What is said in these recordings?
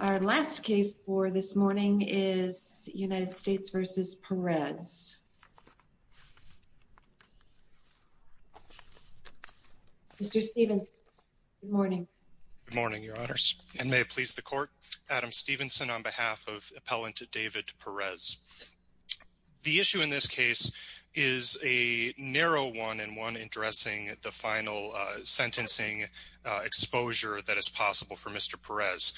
Our last case for this morning is United States v. Perez. Mr. Stephenson, good morning. Good morning, your honors. And may it please the court, Adam Stephenson on behalf of appellant David Perez. The issue in this case is a narrow one and one addressing the final sentencing exposure that is possible for Mr. Perez.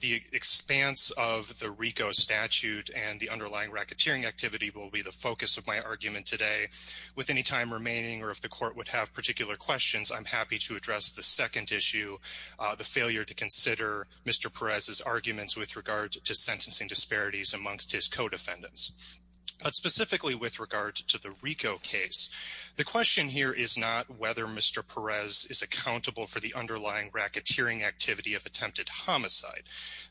The expanse of the RICO statute and the underlying racketeering activity will be the focus of my argument today. With any time remaining or if the court would have particular questions, I'm happy to address the second issue, the failure to consider Mr. Perez's arguments with regard to sentencing disparities amongst his co-defendants. But specifically with regard to the RICO case, the question here is not whether Mr. Perez is accountable for the underlying racketeering activity of attempted homicide.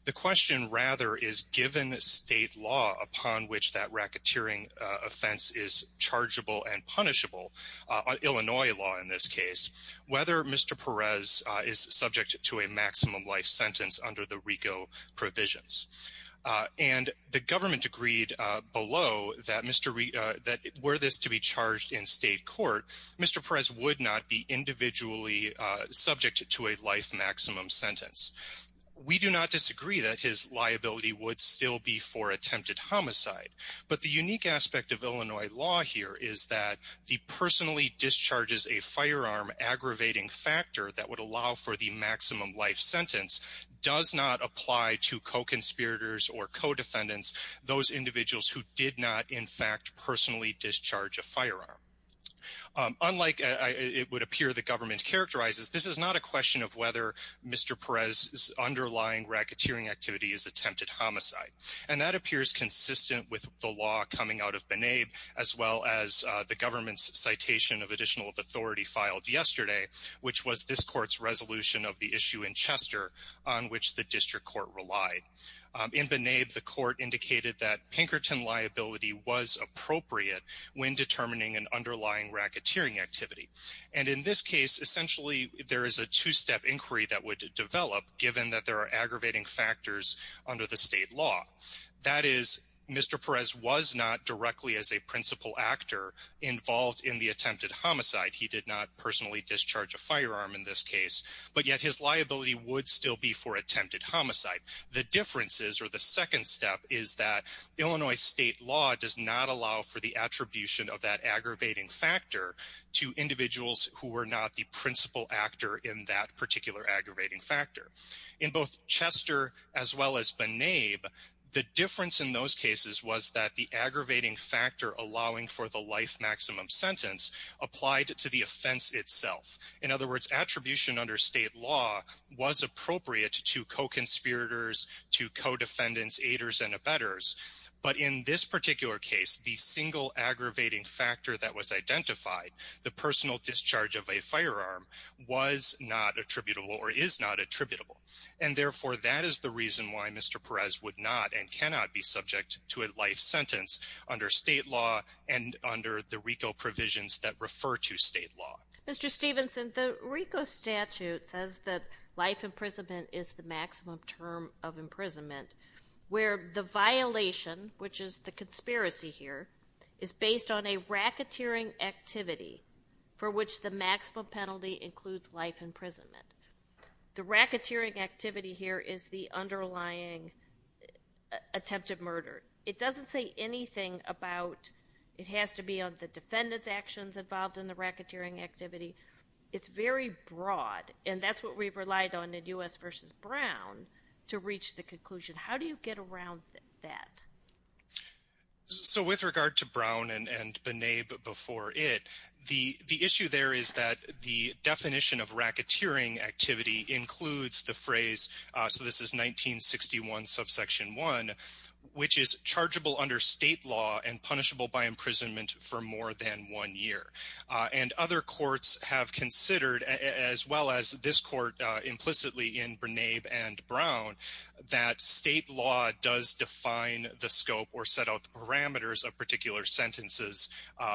The question rather is given state law upon which that racketeering offense is chargeable and punishable, Illinois law in this case, whether Mr. Perez is subject to a maximum life sentence under the RICO provisions. And the government agreed below that Mr. that were this to be charged in state court, Mr. Perez would not be individually subject to a life maximum sentence. We do not disagree that his liability would still be for attempted homicide. But the unique aspect of Illinois law here is that the personally discharges, a firearm aggravating factor that would allow for the maximum life sentence does not apply to co-conspirators or co-defendants. Those individuals who did not, in fact, personally discharge a firearm. Unlike it would appear the government characterizes, this is not a question of whether Mr. Perez's underlying racketeering activity is attempted homicide. And that appears consistent with the law coming out of B'naib as well as the government's citation of additional authority filed yesterday, which was this court's resolution of the issue in Chester on which the district court relied in B'naib. The court indicated that Pinkerton liability was appropriate when determining an underlying racketeering activity. And in this case, essentially, there is a two step inquiry that would develop, given that there are aggravating factors under the state law. That is, Mr. Perez was not directly as a principal actor involved in the attempted homicide. He did not personally discharge a firearm in this case, but yet his liability would still be for attempted homicide. The differences or the second step is that Illinois state law does not allow for the attribution of that aggravating factor to individuals who were not the principal actor in that particular aggravating factor. In both Chester as well as B'naib, the difference in those cases was that the aggravating factor allowing for the life maximum sentence applied to the offense itself. In other words, attribution under state law was appropriate to co-conspirators, to co-defendants, aiders and abettors. But in this particular case, the single aggravating factor that was identified, the personal discharge of a firearm was not attributable or is not attributable. And therefore, that is the reason why Mr. Perez would not and cannot be subject to a life sentence under state law and under the RICO provisions that refer to state law. Mr. Stephenson, the RICO statute says that life imprisonment is the maximum term of imprisonment, where the violation, which is the conspiracy here, is based on a racketeering activity for which the maximum penalty includes life imprisonment. The racketeering activity here is the underlying attempted murder. It doesn't say anything about it has to be on the defendant's actions involved in the racketeering activity. It's very broad, and that's what we've relied on in U.S. v. Brown to reach the conclusion. How do you get around that? So with regard to Brown and B'Naib before it, the issue there is that the definition of racketeering activity includes the phrase, so this is 1961 subsection 1, which is chargeable under state law and punishable by imprisonment for more than one year. And other courts have considered, as well as this court implicitly in B'Naib and Brown, that state law does define the scope or set out the parameters of particular sentences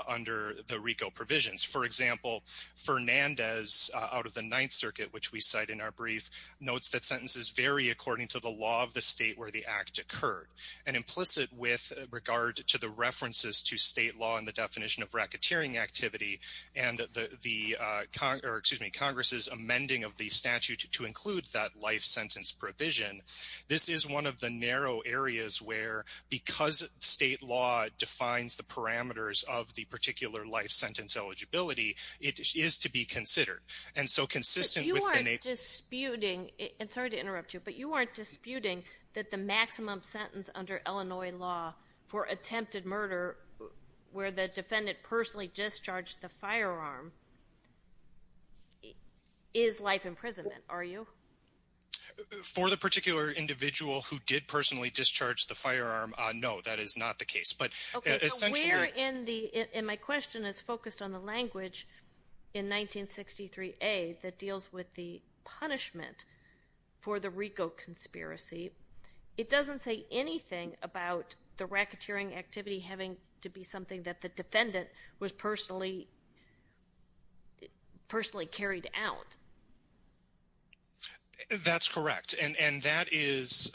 under the RICO provisions. For example, Fernandez out of the Ninth Circuit, which we cite in our brief, notes that sentences vary according to the law of the state where the act occurred. And implicit with regard to the references to state law and the definition of racketeering activity and the Congress's amending of the statute to include that life sentence provision, this is one of the narrow areas where because state law defines the parameters of the particular life sentence eligibility, it is to be considered. And so consistent with B'Naib ---- But you aren't disputing, and sorry to interrupt you, but you aren't disputing that the maximum sentence under Illinois law for attempted murder where the defendant personally discharged the firearm is life imprisonment, are you? For the particular individual who did personally discharge the firearm, no, that is not the case. But essentially ---- that deals with the punishment for the RICO conspiracy, it doesn't say anything about the racketeering activity having to be something that the defendant was personally carried out. That's correct. And that is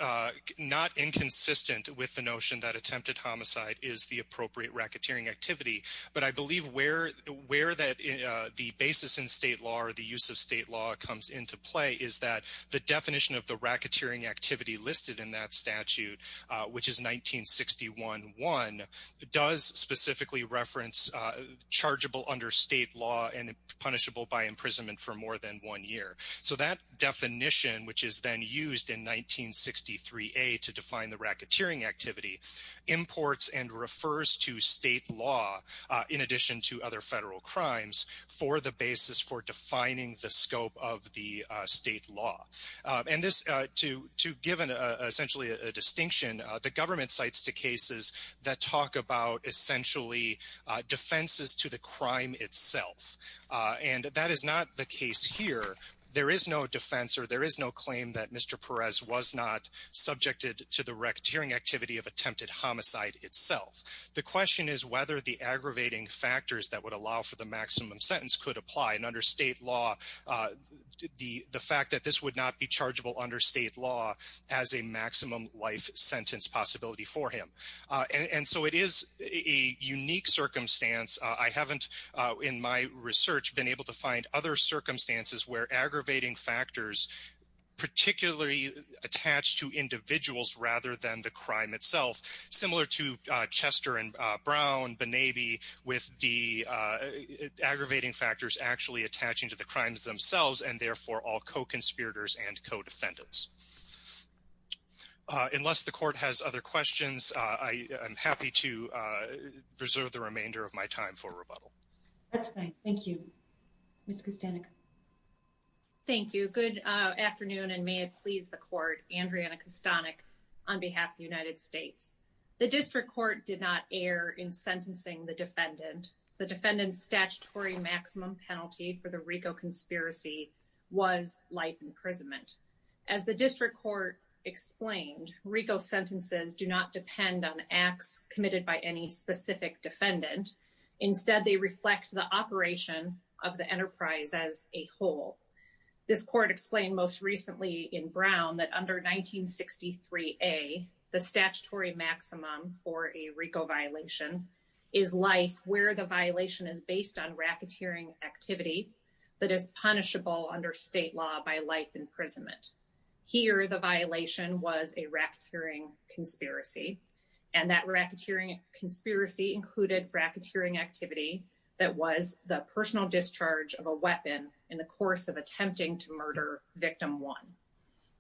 not inconsistent with the notion that attempted homicide is the appropriate racketeering activity. But I believe where the basis in state law or the use of state law comes into play is that the definition of the racketeering activity listed in that statute, which is 1961.1, does specifically reference chargeable under state law and punishable by imprisonment for more than one year. So that definition, which is then used in 1963A to define the racketeering activity, imports and refers to state law in addition to other federal crimes for the basis for defining the scope of the state law. And to give essentially a distinction, the government cites two cases that talk about essentially defenses to the crime itself. And that is not the case here. There is no defense or there is no claim that Mr. Perez was not subjected to the racketeering activity of attempted homicide itself. The question is whether the aggravating factors that would allow for the maximum sentence could apply. And under state law, the fact that this would not be chargeable under state law has a maximum life sentence possibility for him. And so it is a unique circumstance. I haven't, in my research, been able to find other circumstances where aggravating factors particularly attach to individuals rather than the crime itself. Similar to Chester and Brown, B'Nabi, with the aggravating factors actually attaching to the crimes themselves and therefore all co-conspirators and co-defendants. Unless the court has other questions, I am happy to reserve the remainder of my time for rebuttal. Thank you. Ms. Kostanek. Thank you. Good afternoon and may it please the court. Andriana Kostanek on behalf of the United States. The district court did not err in sentencing the defendant. The defendant's statutory maximum penalty for the RICO conspiracy was life imprisonment. As the district court explained, RICO sentences do not depend on acts committed by any specific defendant. Instead, they reflect the operation of the enterprise as a whole. This court explained most recently in Brown that under 1963A, the statutory maximum for a RICO violation is life where the violation is based on racketeering activity that is punishable under state law by life imprisonment. Here, the violation was a racketeering conspiracy. And that racketeering conspiracy included racketeering activity that was the personal discharge of a weapon in the course of attempting to murder victim one.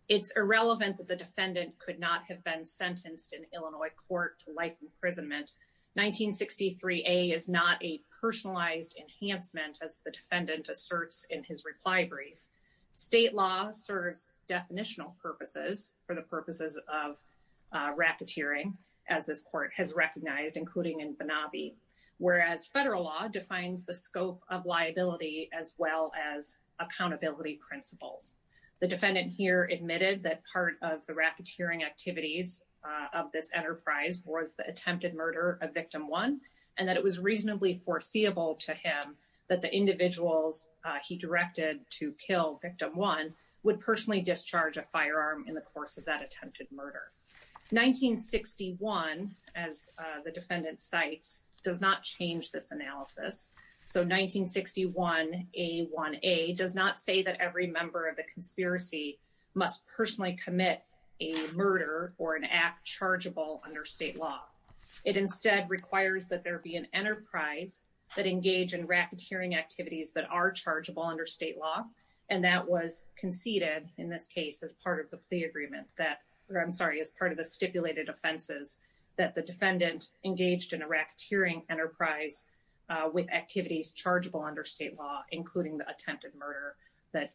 It's irrelevant that the defendant could not have been sentenced in Illinois court to life imprisonment. 1963A is not a personalized enhancement as the defendant asserts in his reply brief. State law serves definitional purposes for the purposes of racketeering as this court has recognized, including in Benabi. Whereas federal law defines the scope of liability as well as accountability principles. The defendant here admitted that part of the racketeering activities of this enterprise was the attempted murder of victim one. And that it was reasonably foreseeable to him that the individuals he directed to kill victim one would personally discharge a firearm in the course of that attempted murder. 1961, as the defendant cites, does not change this analysis. So 1961A1A does not say that every member of the conspiracy must personally commit a murder or an act chargeable under state law. It instead requires that there be an enterprise that engage in racketeering activities that are chargeable under state law. And that was conceded in this case as part of the agreement that, I'm sorry, as part of the stipulated offenses that the defendant engaged in a racketeering enterprise with activities chargeable under state law, including the attempted murder that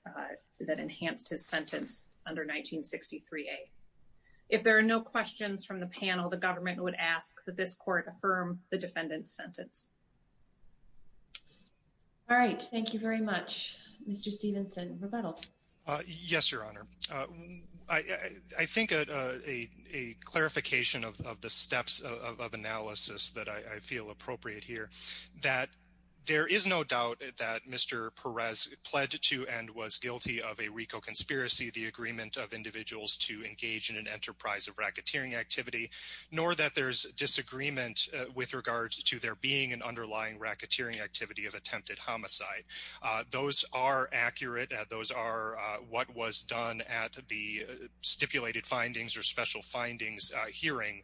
enhanced his sentence under 1963A. If there are no questions from the panel, the government would ask that this court affirm the defendant's sentence. All right. Thank you very much, Mr. Stevenson. Rebuttal. Yes, Your Honor. I think a clarification of the steps of analysis that I feel appropriate here that there is no doubt that Mr. Perez pledged to and was guilty of a RICO conspiracy, the agreement of individuals to engage in an enterprise of racketeering activity. Nor that there's disagreement with regards to there being an underlying racketeering activity of attempted homicide. Those are accurate. Those are what was done at the stipulated findings or special findings hearing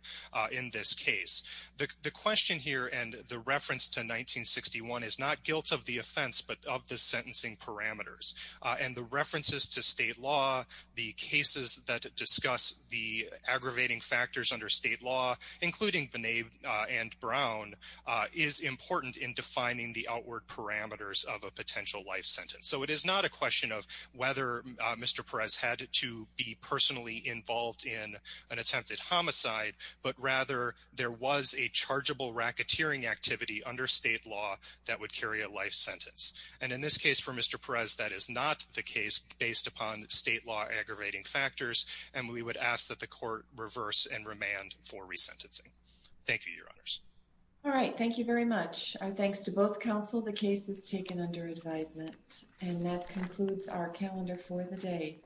in this case. The question here and the reference to 1961 is not guilt of the offense, but of the sentencing parameters. And the references to state law, the cases that discuss the aggravating factors under state law, including Bonet and Brown, is important in defining the outward parameters of a potential life sentence. So it is not a question of whether Mr. Perez had to be personally involved in an attempted homicide, but rather there was a chargeable racketeering activity under state law that would carry a life sentence. And in this case for Mr. Perez, that is not the case based upon state law aggravating factors, and we would ask that the court reverse and remand for resentencing. Thank you, Your Honors. All right. Thank you very much. Our thanks to both counsel. The case is taken under advisement. And that concludes our calendar for the day.